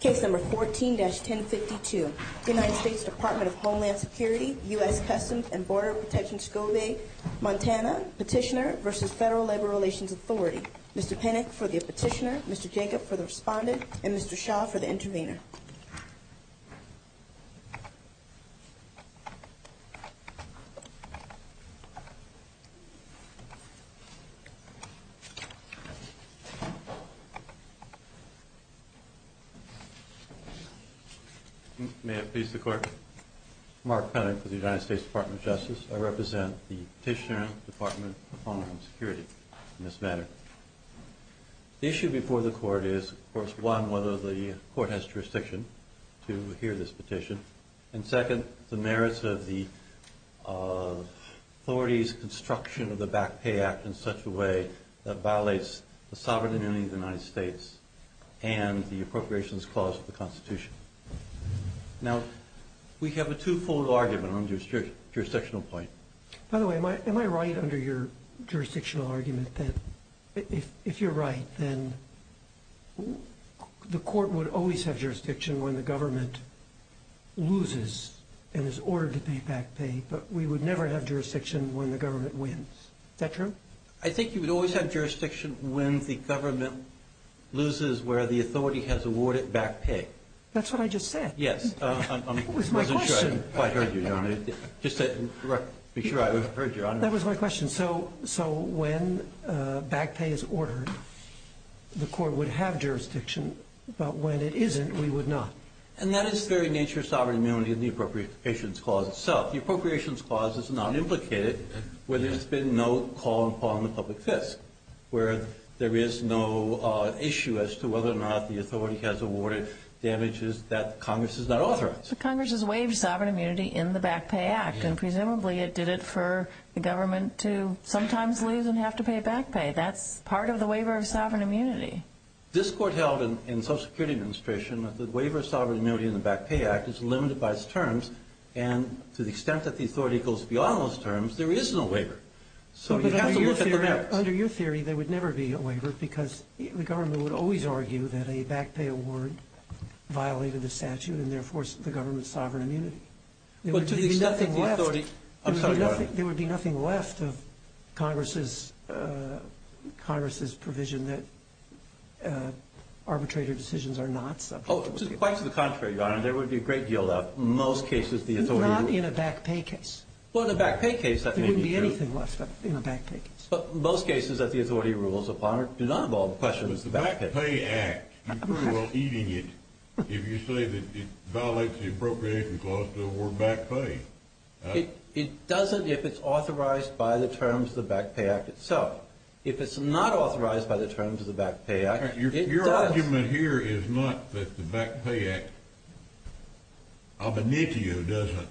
Case number 14-1052, United States Department of Homeland Security, U.S. Customs and Border Protection, Scobie, Montana, Petitioner v. Federal Labor Relations Authority. Mr. Penick for the Petitioner, Mr. Jacob for the Respondent, and Mr. Shaw for the Intervener. May it please the Court. Mark Penick with the United States Department of Justice. I represent the Petitioner Department of Homeland Security in this matter. The issue before the Court is, of course, one, whether the Court has jurisdiction to hear this petition. And second, the merits of the authority's construction of the Back Pay Act in such a way that violates the sovereignty of the United States and the appropriations clause of the Constitution. Now, we have a two-fold argument on this jurisdictional point. By the way, am I right under your jurisdictional argument that if you're right, then the Court would always have jurisdiction when the government loses and is ordered to pay back pay, but we would never have jurisdiction when the government wins? Is that true? I think you would always have jurisdiction when the government loses where the authority has awarded back pay. That's what I just said. Yes. It was my question. I haven't quite heard you, Your Honor. Just to make sure I heard you, Your Honor. That was my question. So when back pay is ordered, the Court would have jurisdiction, but when it isn't, we would not. And that is the very nature of sovereign immunity in the appropriations clause itself. The appropriations clause is not implicated where there's been no call upon the public fist, where there is no issue as to whether or not the authority has awarded damages that Congress has not authorized. But Congress has waived sovereign immunity in the Back Pay Act, and presumably it did it for the government to sometimes lose and have to pay back pay. That's part of the waiver of sovereign immunity. This Court held in Social Security Administration that the waiver of sovereign immunity in the Back Pay Act is limited by its terms, and to the extent that the authority goes beyond those terms, there is no waiver. So you have to look at the merits. Under your theory, there would never be a waiver because the government would always argue that a back pay award violated the statute and therefore the government's sovereign immunity. But to the extent that the authority goes beyond that. There would be nothing left of Congress's provision that arbitrator decisions are not subject to the authority. Oh, quite to the contrary, Your Honor. There would be a great deal left. In most cases, the authority would be. Not in a back pay case. Well, in a back pay case, that may be true. There wouldn't be anything left in a back pay case. But most cases that the authority rules upon do not involve questions of back pay. But the Back Pay Act, you're pretty well eating it if you say that it violates the appropriation clause to award back pay. It doesn't if it's authorized by the terms of the Back Pay Act itself. If it's not authorized by the terms of the Back Pay Act, it does. Your argument here is not that the Back Pay Act ab initio doesn't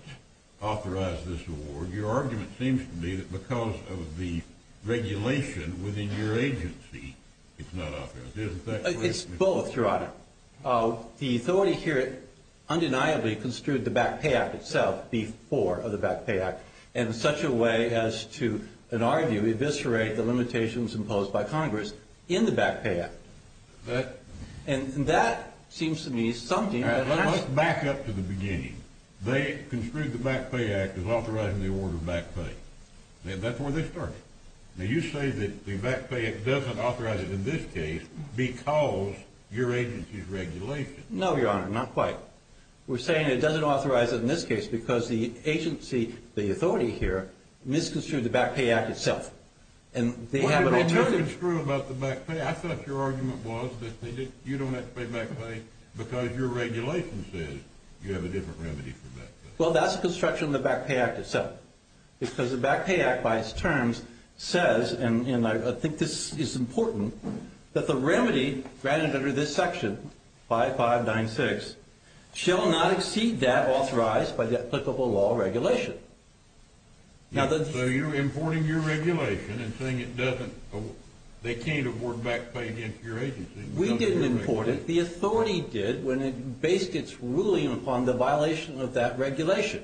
authorize this award. Your argument seems to be that because of the regulation within your agency, it's not authorized. It's both, Your Honor. The authority here undeniably construed the Back Pay Act itself before the Back Pay Act in such a way as to, in our view, to eviscerate the limitations imposed by Congress in the Back Pay Act. And that seems to me something that... Let's back up to the beginning. They construed the Back Pay Act as authorizing the award of back pay. That's where they started. Now, you say that the Back Pay Act doesn't authorize it in this case because your agency's regulation. No, Your Honor, not quite. We're saying it doesn't authorize it in this case because the agency, the authority here, misconstrued the Back Pay Act itself. Why did they misconstrue about the back pay? I thought your argument was that you don't have to pay back pay because your regulation says you have a different remedy for back pay. Well, that's a construction of the Back Pay Act itself because the Back Pay Act, by its terms, says, and I think this is important, that the remedy granted under this section, 5596, shall not exceed that authorized by the applicable law regulation. So you're importing your regulation and saying it doesn't... They can't award back pay against your agency. We didn't import it. The authority did when it based its ruling upon the violation of that regulation.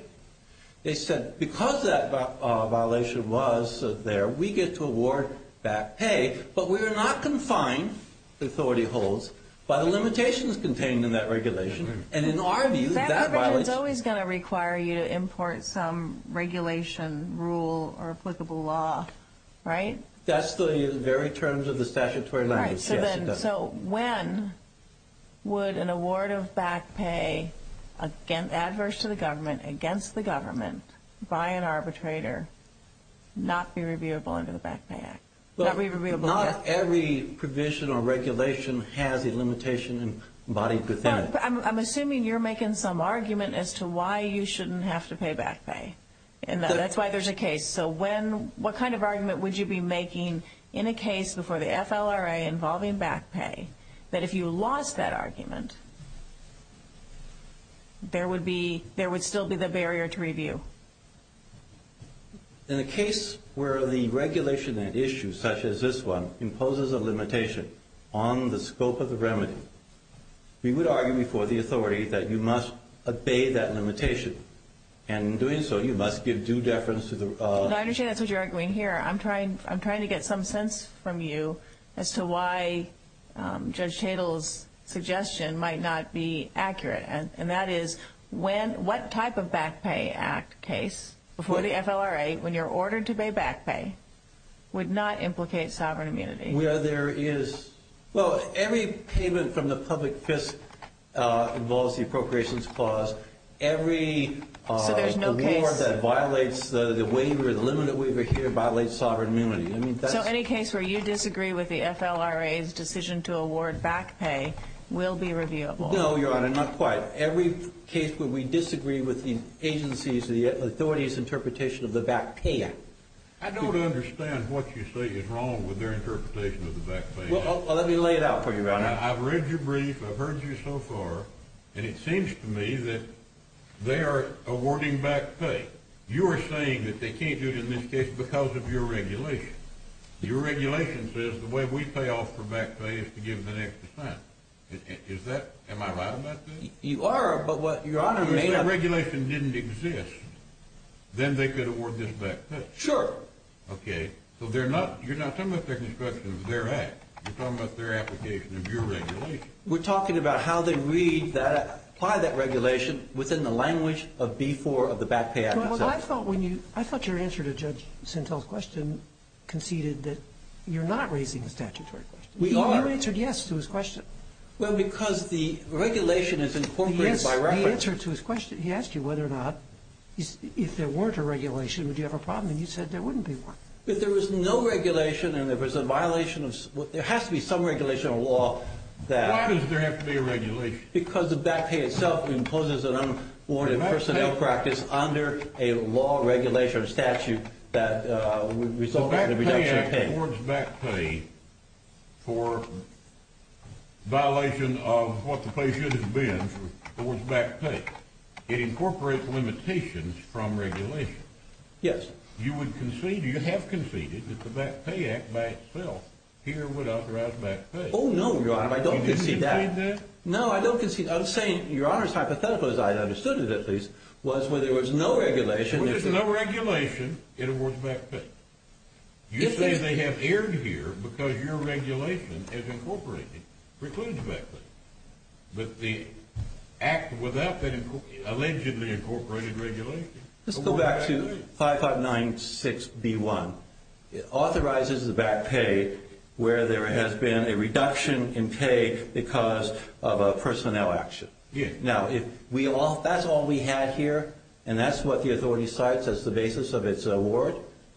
They said because that violation was there, we get to award back pay, but we are not confined, the authority holds, by the limitations contained in that regulation. And in our view, that violation... That regulation is always going to require you to import some regulation rule or applicable law, right? That's the very terms of the statutory language. So when would an award of back pay adverse to the government, against the government, by an arbitrator, not be reviewable under the Back Pay Act? Not every provision or regulation has a limitation embodied within it. I'm assuming you're making some argument as to why you shouldn't have to pay back pay, and that's why there's a case. So what kind of argument would you be making in a case before the FLRA involving back pay, that if you lost that argument, there would still be the barrier to review? In a case where the regulation and issue, such as this one, imposes a limitation on the scope of the remedy, we would argue before the authority that you must obey that limitation. And in doing so, you must give due deference to the... I understand that's what you're arguing here. I'm trying to get some sense from you as to why Judge Tatel's suggestion might not be accurate. And that is, what type of Back Pay Act case before the FLRA, when you're ordered to pay back pay, would not implicate sovereign immunity? Well, every payment from the public fisc involves the appropriations clause. Every award that violates the waiver, the limited waiver here, violates sovereign immunity. So any case where you disagree with the FLRA's decision to award back pay will be reviewable? No, Your Honor, not quite. Every case where we disagree with the agency's or the authority's interpretation of the Back Pay Act. I don't understand what you say is wrong with their interpretation of the Back Pay Act. Well, let me lay it out for you, Your Honor. I've read your brief, I've heard you so far, and it seems to me that they are awarding back pay. You are saying that they can't do it in this case because of your regulation. Your regulation says the way we pay off for back pay is to give the next assignment. Is that... am I right about that? You are, but what Your Honor may have... If that regulation didn't exist, then they could award this back pay. Sure. Okay. So they're not... you're not talking about their construction of their act. You're talking about their application of your regulation. We're talking about how they read that... apply that regulation within the language of before of the Back Pay Act itself. Well, I thought when you... I thought your answer to Judge Sentel's question conceded that you're not raising a statutory question. We are. You answered yes to his question. Well, because the regulation is incorporated by reference. He answered to his question. He asked you whether or not... if there weren't a regulation, would you have a problem? And you said there wouldn't be one. If there was no regulation and there was a violation of... there has to be some regulation of law that... Why does there have to be a regulation? Because the back pay itself imposes an unawarded personnel practice under a law, regulation, or statute that would result in a reduction of pay. If there is an awards back pay for violation of what the pay should have been for awards back pay, it incorporates limitations from regulation. Yes. You would concede... you have conceded that the Back Pay Act by itself here would authorize back pay. Oh, no, Your Honor. I don't concede that. You didn't concede that? No, I don't concede... I'm saying Your Honor's hypothetical, as I understood it at least, was when there was no regulation... You say they have erred here because your regulation has incorporated precludes back pay. But the Act without that allegedly incorporated regulation... Let's go back to 5596B1. It authorizes the back pay where there has been a reduction in pay because of a personnel action. Yes. Now, if that's all we had here, and that's what the authority cites as the basis of its award,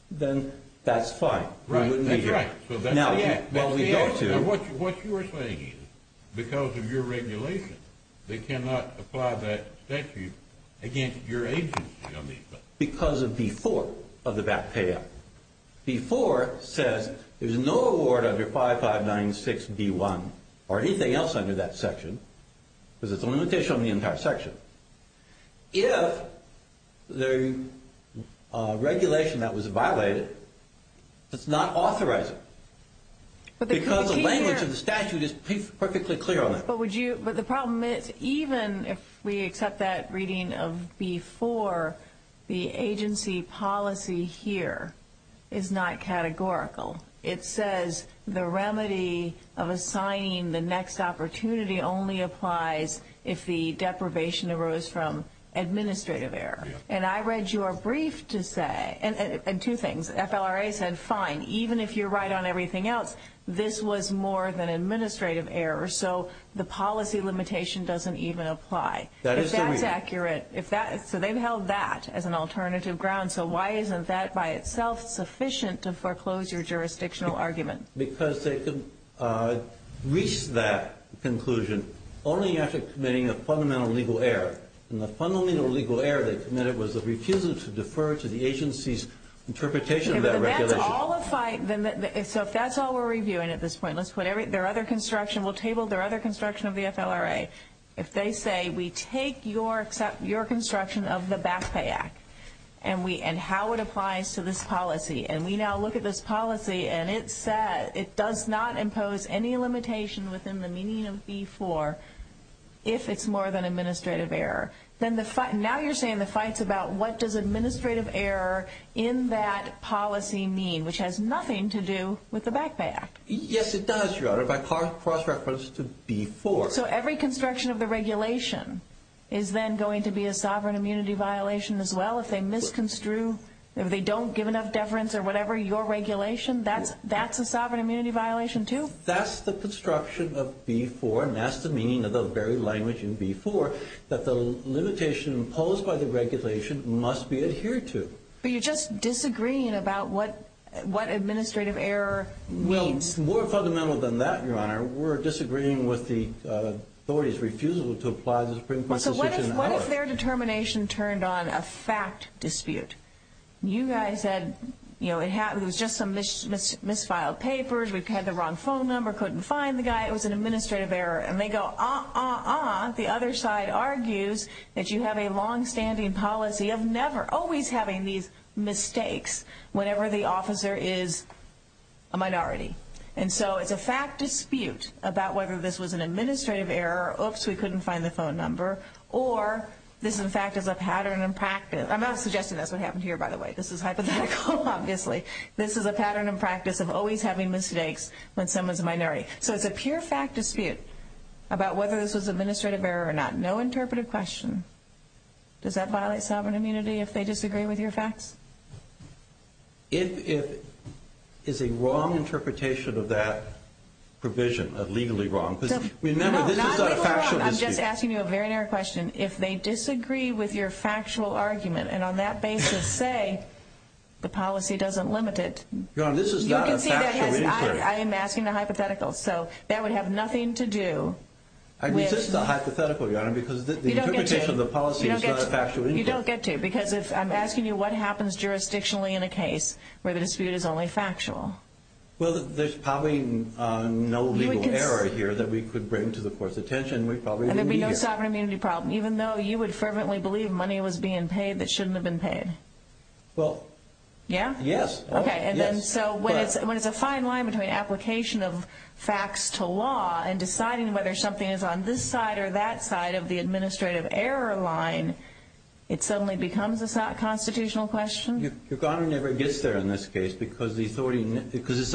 then that's fine. We wouldn't be here. That's right. Now, what we go to... What you are saying is because of your regulation, they cannot apply that statute against your agency on these matters. Because of B4 of the Back Pay Act. B4 says there's no award under 5596B1 or anything else under that section because it's a limitation on the entire section. If the regulation that was violated does not authorize it, because the language of the statute is perfectly clear on that. But the problem is even if we accept that reading of B4, the agency policy here is not categorical. It says the remedy of assigning the next opportunity only applies if the deprivation arose from administrative error. And I read your brief to say... And two things. FLRA said, fine, even if you're right on everything else, this was more than administrative error. So the policy limitation doesn't even apply. If that's accurate... That is the reason. So they've held that as an alternative ground. So why isn't that by itself sufficient to foreclose your jurisdictional argument? Because they could reach that conclusion only after committing a fundamental legal error. And the fundamental legal error they committed was the refusal to defer to the agency's interpretation of that regulation. So if that's all we're reviewing at this point, we'll table their other construction of the FLRA. If they say we take your construction of the Back Pay Act and how it applies to this policy, and we now look at this policy and it does not impose any limitation within the meaning of B4 if it's more than administrative error, now you're saying the fight's about what does administrative error in that policy mean, which has nothing to do with the Back Pay Act. Yes, it does, Your Honor, by cross-reference to B4. So every construction of the regulation is then going to be a sovereign immunity violation as well? If they misconstrue, if they don't give enough deference or whatever, your regulation, that's a sovereign immunity violation too? That's the construction of B4, and that's the meaning of the very language in B4 that the limitation imposed by the regulation must be adhered to. But you're just disagreeing about what administrative error means. Well, more fundamental than that, Your Honor, we're disagreeing with the authorities' refusal to apply the Supreme Court's decision. So what if their determination turned on a fact dispute? You guys said, you know, it was just some misfiled papers, we had the wrong phone number, couldn't find the guy, it was an administrative error. And they go, uh-uh-uh, the other side argues that you have a longstanding policy of never, always having these mistakes whenever the officer is a minority. And so it's a fact dispute about whether this was an administrative error, oops, we couldn't find the phone number, or this, in fact, is a pattern and practice, I'm not suggesting that's what happened here, by the way, this is hypothetical, obviously. This is a pattern and practice of always having mistakes when someone's a minority. So it's a pure fact dispute about whether this was administrative error or not. No interpretive question. Does that violate sovereign immunity if they disagree with your facts? It is a wrong interpretation of that provision, legally wrong. Remember, this is not a factual dispute. I'm just asking you a very narrow question. If they disagree with your factual argument and on that basis say the policy doesn't limit it. Your Honor, this is not a factual inquiry. You can see that I am asking the hypothetical, so that would have nothing to do with. I mean, this is a hypothetical, Your Honor, because the interpretation of the policy is not a factual inquiry. You don't get to, because if I'm asking you what happens jurisdictionally in a case where the dispute is only factual. Well, there's probably no legal error here that we could bring to the Court's attention. And there'd be no sovereign immunity problem, even though you would fervently believe money was being paid that shouldn't have been paid. Well, yes. Okay, and then so when it's a fine line between application of facts to law and deciding whether something is on this side or that side of the administrative error line, it suddenly becomes a constitutional question? Your Honor, it never gets there in this case, because it's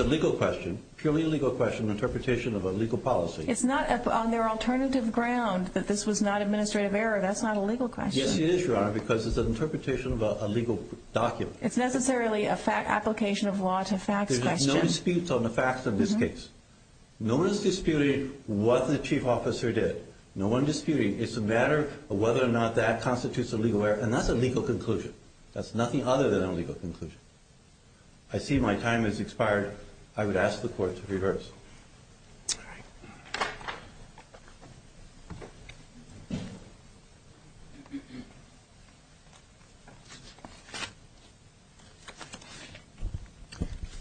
a legal question, purely a legal question, an interpretation of a legal policy. It's not on their alternative ground that this was not administrative error. That's not a legal question. Yes, it is, Your Honor, because it's an interpretation of a legal document. It's necessarily an application of law to facts question. There's no disputes on the facts of this case. No one is disputing what the Chief Officer did. No one is disputing. It's a matter of whether or not that constitutes a legal error, and that's a legal conclusion. That's nothing other than a legal conclusion. I see my time has expired. I would ask the Court to reverse. All right.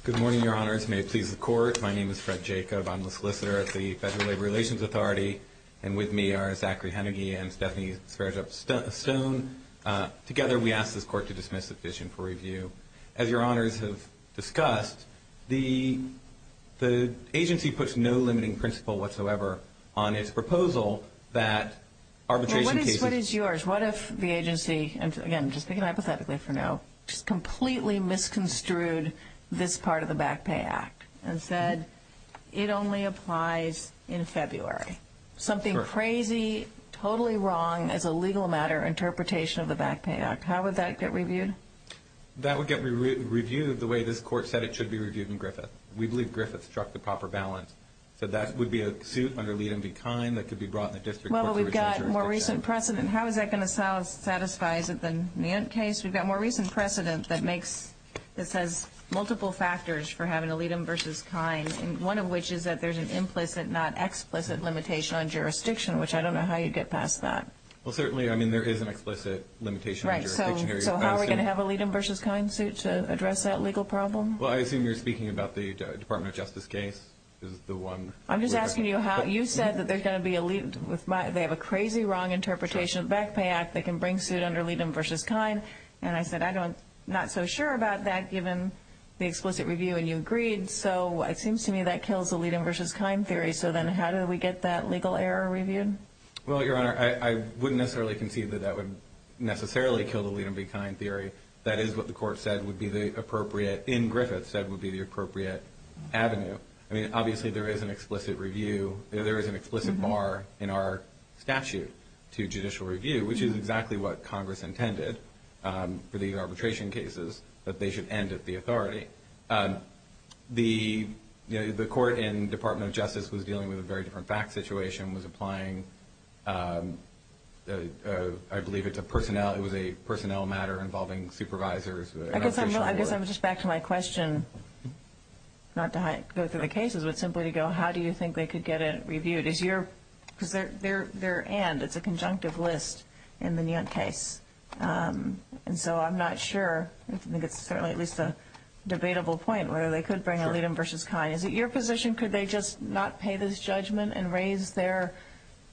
Good morning, Your Honors. May it please the Court. My name is Fred Jacob. I'm a solicitor at the Federal Labor Relations Authority, and with me are Zachary Hennigy and Stephanie Sverdrup-Stone. Together, we ask this Court to dismiss the petition for review. As Your Honors have discussed, the agency puts no limiting principle whatsoever on its proposal that arbitration cases Well, what is yours? What if the agency, and again, just thinking hypothetically for now, just completely misconstrued this part of the Back Pay Act and said it only applies in February? Something crazy, totally wrong as a legal matter interpretation of the Back Pay Act. How would that get reviewed? That would get reviewed the way this Court said it should be reviewed in Griffith. We believe Griffith struck the proper balance. So that would be a suit under Liedem v. Kine that could be brought in the district court. Well, but we've got more recent precedent. How is that going to satisfy? Is it the Nant case? We've got more recent precedent that says multiple factors for having a Liedem v. Kine, one of which is that there's an implicit, not explicit, limitation on jurisdiction, which I don't know how you'd get past that. Well, certainly, I mean, there is an explicit limitation on jurisdiction. Right. So how are we going to have a Liedem v. Kine suit to address that legal problem? Well, I assume you're speaking about the Department of Justice case is the one. I'm just asking you how. You said that there's going to be a Liedem. They have a crazy, wrong interpretation of the Back Pay Act that can bring suit under Liedem v. Kine. And I said, I'm not so sure about that given the explicit review. And you agreed. So it seems to me that kills the Liedem v. Kine theory. So then how do we get that legal error reviewed? Well, Your Honor, I wouldn't necessarily concede that that would necessarily kill the Liedem v. Kine theory. That is what the court said would be the appropriate, in Griffith, said would be the appropriate avenue. I mean, obviously, there is an explicit review. for the arbitration cases that they should end at the authority. The court in Department of Justice was dealing with a very different fact situation, was applying, I believe, it was a personnel matter involving supervisors. I guess I'm just back to my question, not to go through the cases, but simply to go, how do you think they could get it reviewed? Because they're and, it's a conjunctive list in the Niant case. And so I'm not sure. I think it's certainly at least a debatable point whether they could bring a Liedem v. Kine. Is it your position, could they just not pay this judgment and raise their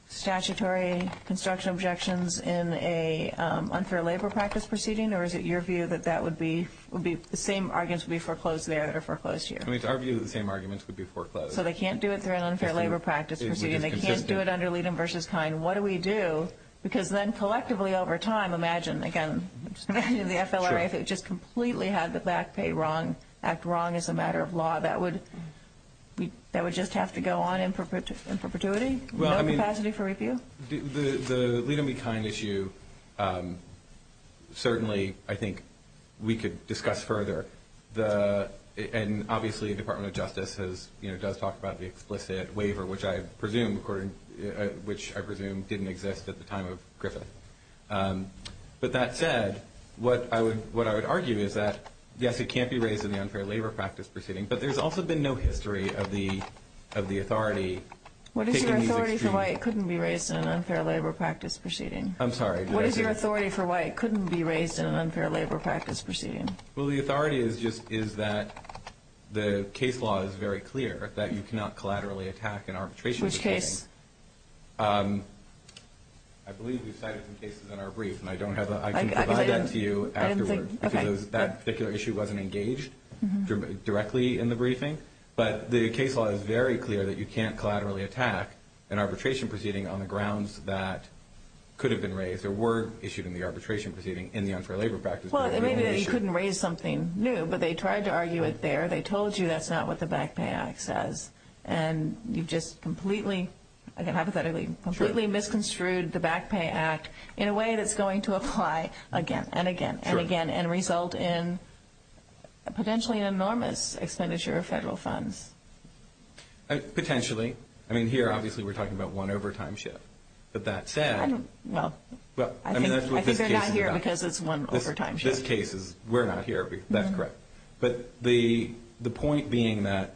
statutory construction objections in an unfair labor practice proceeding? Or is it your view that that would be the same arguments would be foreclosed there that are foreclosed here? It's our view that the same arguments would be foreclosed. So they can't do it through an unfair labor practice proceeding. They can't do it under Liedem v. Kine. What do we do? Because then collectively over time, imagine, again, the FLRA, if it just completely had the back pay wrong, act wrong as a matter of law, that would just have to go on in perpetuity? No capacity for review? The Liedem v. Kine issue, certainly, I think we could discuss further. And obviously the Department of Justice does talk about the explicit waiver, which I presume didn't exist at the time of Griffith. But that said, what I would argue is that, yes, it can't be raised in the unfair labor practice proceeding, but there's also been no history of the authority taking these extremes. What is your authority for why it couldn't be raised in an unfair labor practice proceeding? I'm sorry. What is your authority for why it couldn't be raised in an unfair labor practice proceeding? Well, the authority is just that the case law is very clear, that you cannot collaterally attack an arbitration proceeding. Which case? I believe we've cited some cases in our brief, and I can provide that to you afterwards. Because that particular issue wasn't engaged directly in the briefing. But the case law is very clear that you can't collaterally attack an arbitration proceeding on the grounds that could have been raised or were issued in the arbitration proceeding in the unfair labor practice proceeding. Well, it may be that you couldn't raise something new, but they tried to argue it there. They told you that's not what the Back Pay Act says. And you've just completely, hypothetically, completely misconstrued the Back Pay Act in a way that's going to apply again and again and again and result in potentially an enormous expenditure of federal funds. Potentially. I mean, here, obviously, we're talking about one overtime shift. But that said, I mean, that's what this case is about. Because it's one overtime shift. This case is, we're not here. That's correct. But the point being that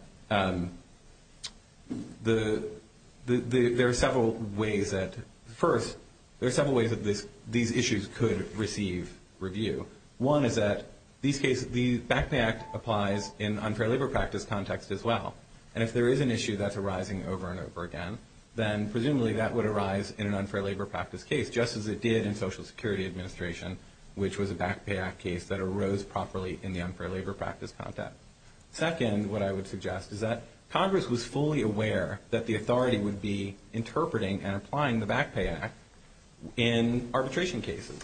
there are several ways that, first, there are several ways that these issues could receive review. One is that these cases, the Back Pay Act applies in unfair labor practice context as well. And if there is an issue that's arising over and over again, then presumably that would arise in an unfair labor practice case, just as it did in Social Security Administration, which was a Back Pay Act case that arose properly in the unfair labor practice context. Second, what I would suggest is that Congress was fully aware that the authority would be interpreting and applying the Back Pay Act in arbitration cases.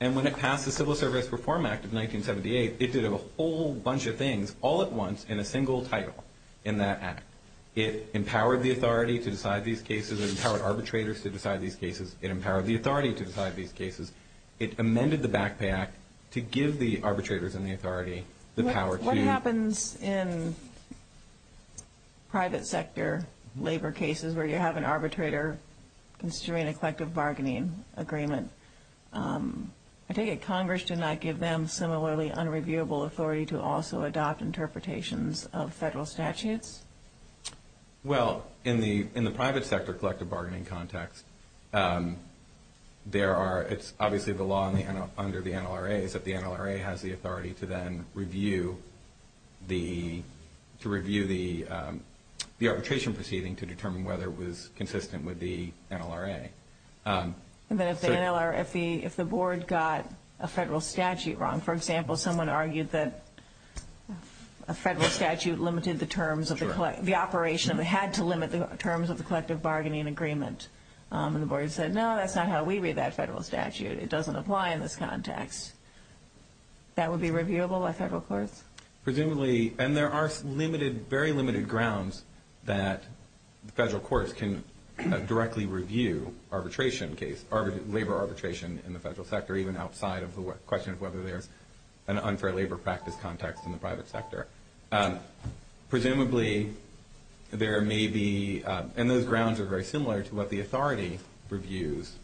And when it passed the Civil Service Reform Act of 1978, it did a whole bunch of things all at once in a single title in that act. It empowered the authority to decide these cases. It empowered arbitrators to decide these cases. It empowered the authority to decide these cases. It amended the Back Pay Act to give the arbitrators and the authority the power to. What happens in private sector labor cases where you have an arbitrator considering a collective bargaining agreement? I take it Congress did not give them similarly unreviewable authority to also adopt interpretations of federal statutes? Well, in the private sector collective bargaining context, it's obviously the law under the NLRA is that the NLRA has the authority to then review the arbitration proceeding to determine whether it was consistent with the NLRA. If the board got a federal statute wrong, for example, someone argued that a federal statute had to limit the terms of the collective bargaining agreement. And the board said, no, that's not how we read that federal statute. It doesn't apply in this context. That would be reviewable by federal courts? Presumably. And there are very limited grounds that federal courts can directly review arbitration cases, labor arbitration in the federal sector, even outside of the question of whether there's an unfair labor practice context in the private sector. Presumably, there may be – and those grounds are very similar to what the authority reviews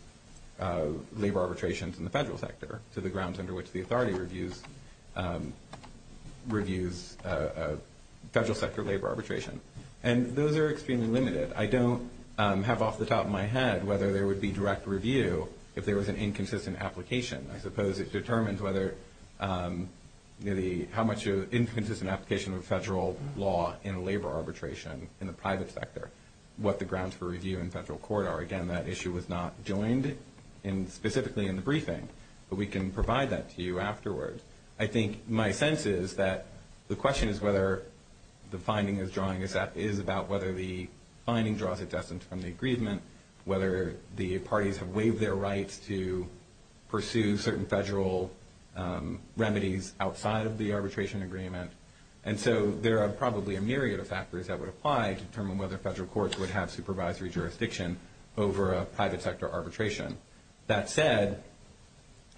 labor arbitrations in the federal sector, to the grounds under which the authority reviews federal sector labor arbitration. And those are extremely limited. I don't have off the top of my head whether there would be direct review if there was an inconsistent application. I suppose it determines whether – how much of an inconsistent application of federal law in labor arbitration in the private sector, what the grounds for review in federal court are. Again, that issue was not joined specifically in the briefing. But we can provide that to you afterwards. I think my sense is that the question is whether the finding is drawing – is about whether the finding draws its essence from the agreement, whether the parties have waived their rights to pursue certain federal remedies outside of the arbitration agreement. And so there are probably a myriad of factors that would apply to determine whether federal courts would have supervisory jurisdiction over a private sector arbitration. That said,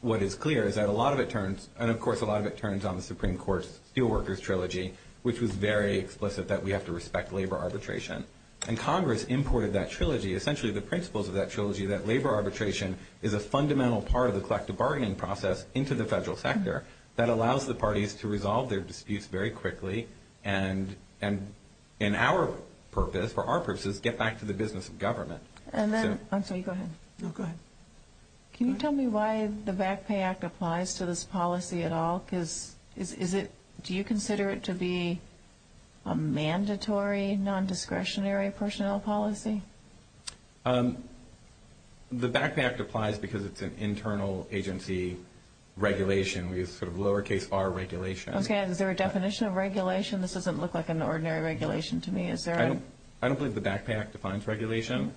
what is clear is that a lot of it turns – and of course a lot of it turns on the Supreme Court's Steelworkers Trilogy, which was very explicit that we have to respect labor arbitration. And Congress imported that trilogy, essentially the principles of that trilogy, that labor arbitration is a fundamental part of the collective bargaining process into the federal sector that allows the parties to resolve their disputes very quickly and in our purpose, for our purposes, get back to the business of government. And then – I'm sorry, go ahead. No, go ahead. Can you tell me why the Back Pay Act applies to this policy at all? Because is it – do you consider it to be a mandatory non-discretionary personnel policy? The Back Pay Act applies because it's an internal agency regulation. We use sort of lowercase r regulation. Okay. Is there a definition of regulation? I don't believe the Back Pay Act defines regulation.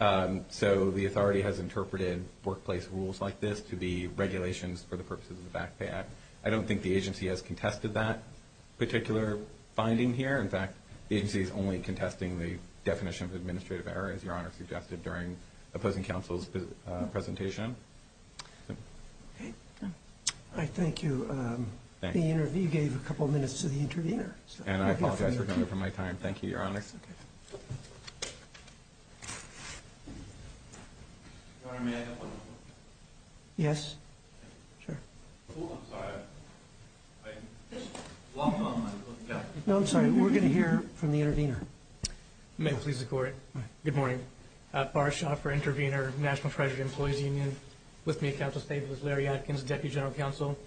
So the authority has interpreted workplace rules like this to be regulations for the purposes of the Back Pay Act. I don't think the agency has contested that particular finding here. In fact, the agency is only contesting the definition of administrative error, as Your Honor suggested during opposing counsel's presentation. All right, thank you. You gave a couple of minutes to the intervener. And I apologize for cutting you from my time. Thank you, Your Honor. Your Honor, may I have one moment? Yes, sure. I'm sorry, I'm long gone. No, I'm sorry, we're going to hear from the intervener. May it please the Court. Good morning. Barr Schauffer, intervener, National Treasury Employees Union. With me at counsel's table is Larry Atkins, Deputy General Counsel.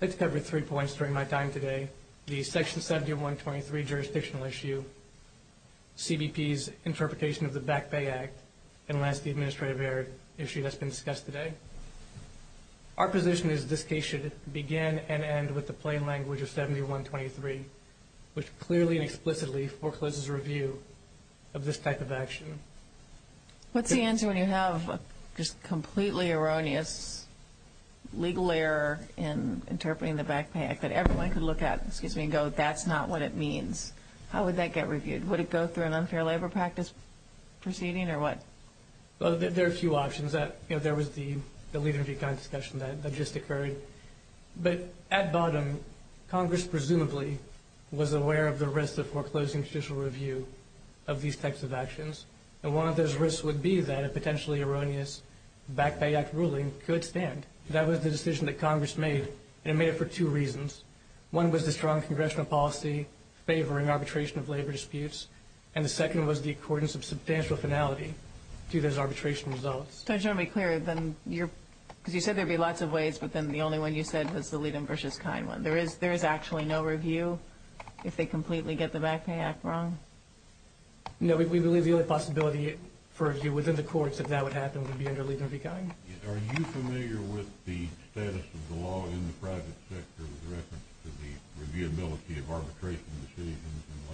I'd like to cover three points during my time today. The Section 7123 jurisdictional issue, CBP's interpretation of the Back Pay Act, and last, the administrative error issue that's been discussed today. Our position is this case should begin and end with the plain language of 7123, which clearly and explicitly forecloses review of this type of action. What's the answer when you have just completely erroneous legal error in interpreting the Back Pay Act that everyone could look at, excuse me, and go that's not what it means? How would that get reviewed? Would it go through an unfair labor practice proceeding or what? Well, there are a few options. There was the leader of the economy discussion that just occurred. But at bottom, Congress presumably was aware of the risk of foreclosing judicial review of these types of actions. And one of those risks would be that a potentially erroneous Back Pay Act ruling could stand. That was the decision that Congress made, and it made it for two reasons. One was the strong congressional policy favoring arbitration of labor disputes, and the second was the accordance of substantial finality to those arbitration results. So just to be clear, because you said there would be lots of ways, but then the only one you said was the Liedenbruch's kind one. There is actually no review if they completely get the Back Pay Act wrong? No, we believe the only possibility for review within the courts if that would happen would be under Liedenbruch's kind. Are you familiar with the status of the law in the private sector with reference to the reviewability of arbitration decisions in labor?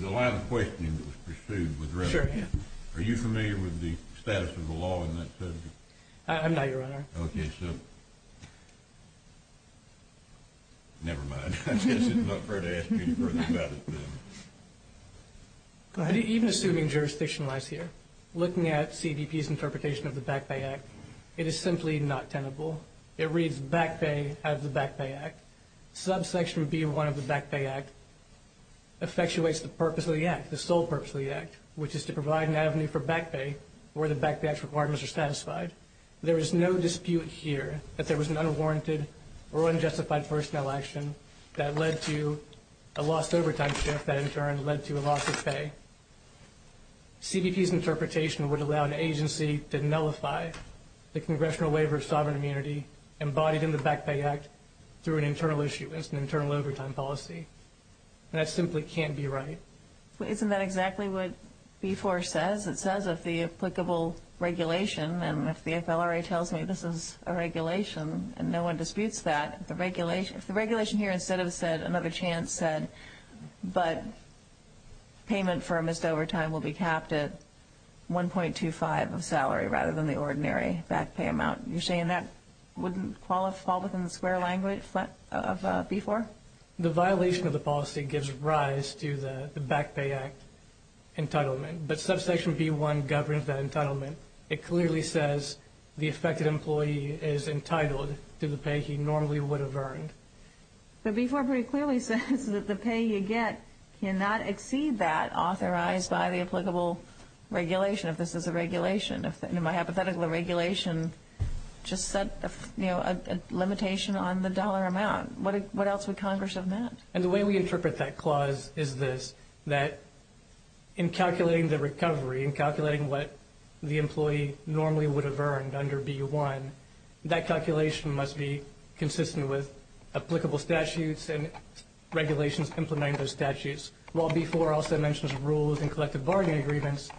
The line of questioning that was pursued with reference to that. Sure, yeah. Are you familiar with the status of the law in that subject? I'm not, Your Honor. Okay, so never mind. I guess it's not fair to ask you any further about it then. Even assuming jurisdiction lies here, looking at CBP's interpretation of the Back Pay Act, it is simply not tenable. It reads back pay out of the Back Pay Act. Subsection B-1 of the Back Pay Act effectuates the purpose of the act, the sole purpose of the act, which is to provide an avenue for back pay where the back pay act's requirements are satisfied. There is no dispute here that there was an unwarranted or unjustified personnel action that led to a lost overtime shift that, in turn, led to a loss of pay. CBP's interpretation would allow an agency to nullify the congressional waiver of sovereign immunity embodied in the Back Pay Act through an internal issue. It's an internal overtime policy. And that simply can't be right. Isn't that exactly what B-4 says? It says if the applicable regulation, and if the FLRA tells me this is a regulation and no one disputes that, if the regulation here instead of said another chance said but payment for a missed overtime will be capped at $1.25 of salary rather than the ordinary back pay amount, you're saying that wouldn't fall within the square language of B-4? The violation of the policy gives rise to the Back Pay Act entitlement. But Subsection B-1 governs that entitlement. It clearly says the affected employee is entitled to the pay he normally would have earned. But B-4 pretty clearly says that the pay you get cannot exceed that authorized by the applicable regulation, if this is a regulation. If, in my hypothetical, the regulation just set a limitation on the dollar amount, what else would Congress have meant? And the way we interpret that clause is this, that in calculating the recovery, in calculating what the employee normally would have earned under B-1, that calculation must be consistent with applicable statutes and regulations implementing those statutes. While B-4 also mentions rules and collective bargaining agreements,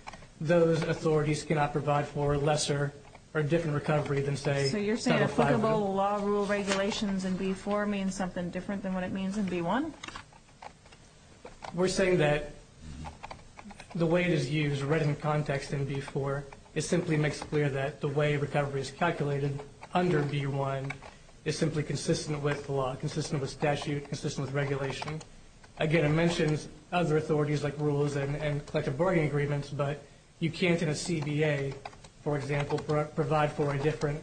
those authorities cannot provide for a lesser or different recovery than, say, 75. So you're saying applicable law rule regulations in B-4 means something different than what it means in B-1? We're saying that the way it is used, read in context in B-4, it simply makes clear that the way recovery is calculated under B-1 is simply consistent with the law, consistent with statute, consistent with regulation. Again, it mentions other authorities like rules and collective bargaining agreements, but you can't in a CBA, for example, provide for a different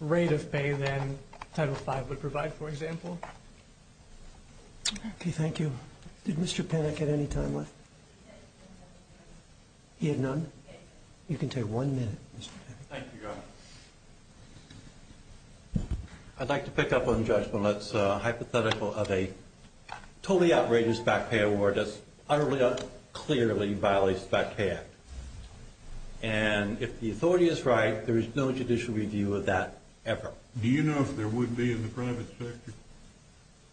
rate of pay than Title V would provide, for example. Okay, thank you. Did Mr. Panek have any time left? He had none? You can take one minute, Mr. Panek. Thank you, Governor. I'd like to pick up on Judge Millett's hypothetical of a totally outrageous back pay award that utterly and clearly violates the Back Pay Act. And if the authority is right, there is no judicial review of that ever. Do you know if there would be in the private sector?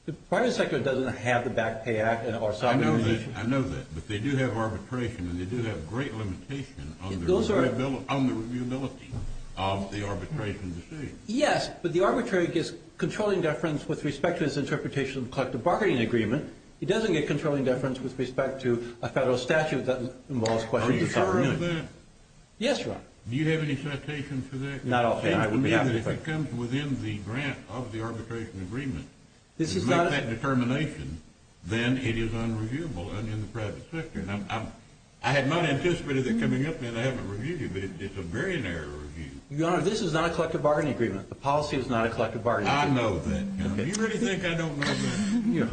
The private sector doesn't have the Back Pay Act or some of the regulations. I know that, but they do have arbitration, and they do have great limitation on the reviewability of the arbitration. Yes, but the arbitrary gets controlling deference with respect to its interpretation of collective bargaining agreement. It doesn't get controlling deference with respect to a federal statute that involves questions of sovereignty. Are you sure of that? Yes, Your Honor. Do you have any citations for that? Not often. If it comes within the grant of the arbitration agreement to make that determination, then it is unreviewable in the private sector. I had not anticipated that coming up, and I haven't reviewed it, but it's a very narrow review. Your Honor, this is not a collective bargaining agreement. The policy is not a collective bargaining agreement. I know that, Your Honor. You really think I don't know that?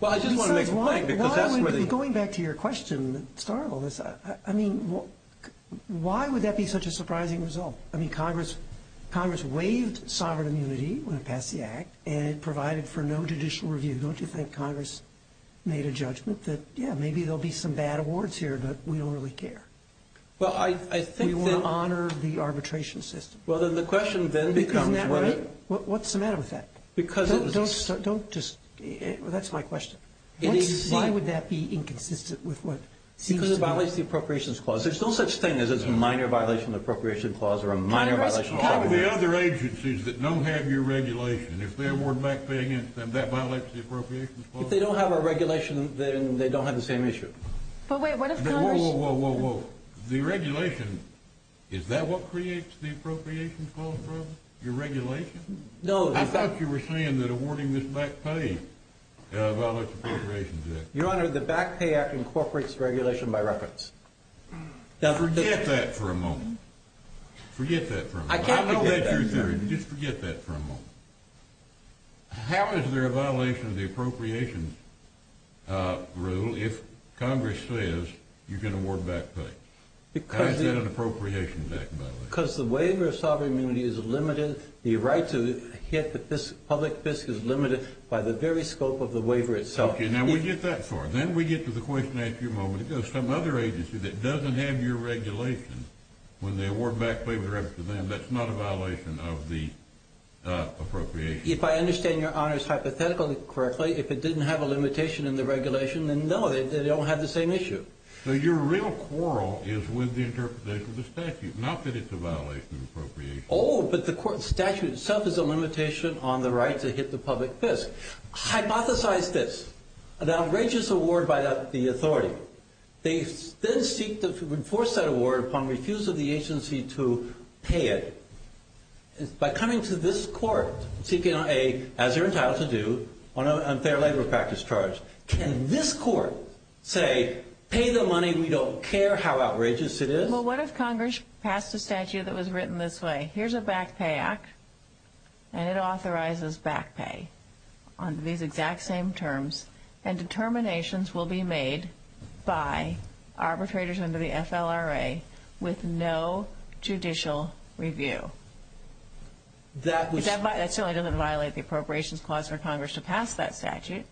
Well, I just want to make a point. Going back to your question, it's horrible. I mean, why would that be such a surprising result? I mean, Congress waived sovereign immunity when it passed the Act, and it provided for no judicial review. Don't you think Congress made a judgment that, yeah, maybe there will be some bad awards here, but we don't really care? Well, I think that — We want to honor the arbitration system. Well, then the question then becomes whether — Isn't that right? What's the matter with that? Because it's — Don't just — that's my question. Why would that be inconsistent with what seems to be — Because it violates the appropriations clause. There's no such thing as a minor violation of the appropriations clause or a minor — Congress, cover the other agencies that don't have your regulation. If they award back pay against them, that violates the appropriations clause? If they don't have our regulation, then they don't have the same issue. But wait, what if Congress — Whoa, whoa, whoa, whoa, whoa, whoa. The regulation, is that what creates the appropriations clause problem? Your regulation? No, in fact — I thought you were saying that awarding this back pay violates the appropriations act. Your Honor, the Back Pay Act incorporates regulation by reference. Forget that for a moment. Forget that for a moment. I can't forget that. I know that's your theory, but just forget that for a moment. How is there a violation of the appropriations rule if Congress says you can award back pay? How is that an appropriations act violation? Because the waiver of sovereign immunity is limited. The right to hit the public fisc is limited by the very scope of the waiver itself. Okay, now we get that far. Then we get to the question I asked you a moment ago. Some other agency that doesn't have your regulation, when they award back pay with reference to them, that's not a violation of the appropriations. If I understand your honors hypothetically correctly, if it didn't have a limitation in the regulation, then no, they don't have the same issue. So your real quarrel is with the interpretation of the statute, not that it's a violation of appropriations. Oh, but the statute itself is a limitation on the right to hit the public fisc. Hypothesize this. An outrageous award by the authority. They then seek to enforce that award upon refusal of the agency to pay it. By coming to this court, seeking a, as you're entitled to do, unfair labor practice charge, can this court say, pay the money, we don't care how outrageous it is? Well, what if Congress passed a statute that was written this way? Here's a back pay act, and it authorizes back pay on these exact same terms. And determinations will be made by arbitrators under the FLRA with no judicial review. That certainly doesn't violate the appropriations clause for Congress to pass that statute.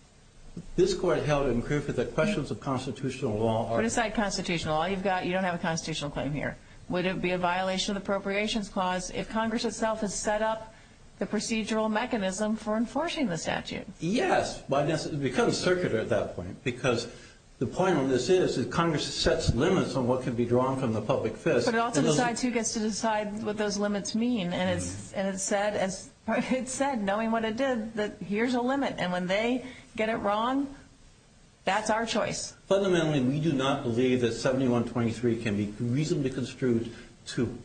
This court held in Krupa that questions of constitutional law are. Put aside constitutional law. You don't have a constitutional claim here. Would it be a violation of the appropriations clause if Congress itself has set up the procedural mechanism for enforcing the statute? Yes. It becomes circular at that point. Because the point on this is that Congress sets limits on what can be drawn from the public fisc. But it also decides who gets to decide what those limits mean. And it said, knowing what it did, that here's a limit. And when they get it wrong, that's our choice. Fundamentally, we do not believe that 7123 can be reasonably construed to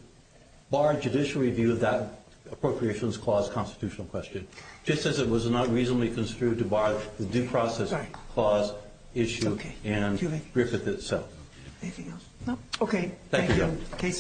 bar judicial review of that appropriations clause constitutional question, just as it was not reasonably construed to bar the due process clause issue and Griffith itself. Anything else? No. Okay. Thank you.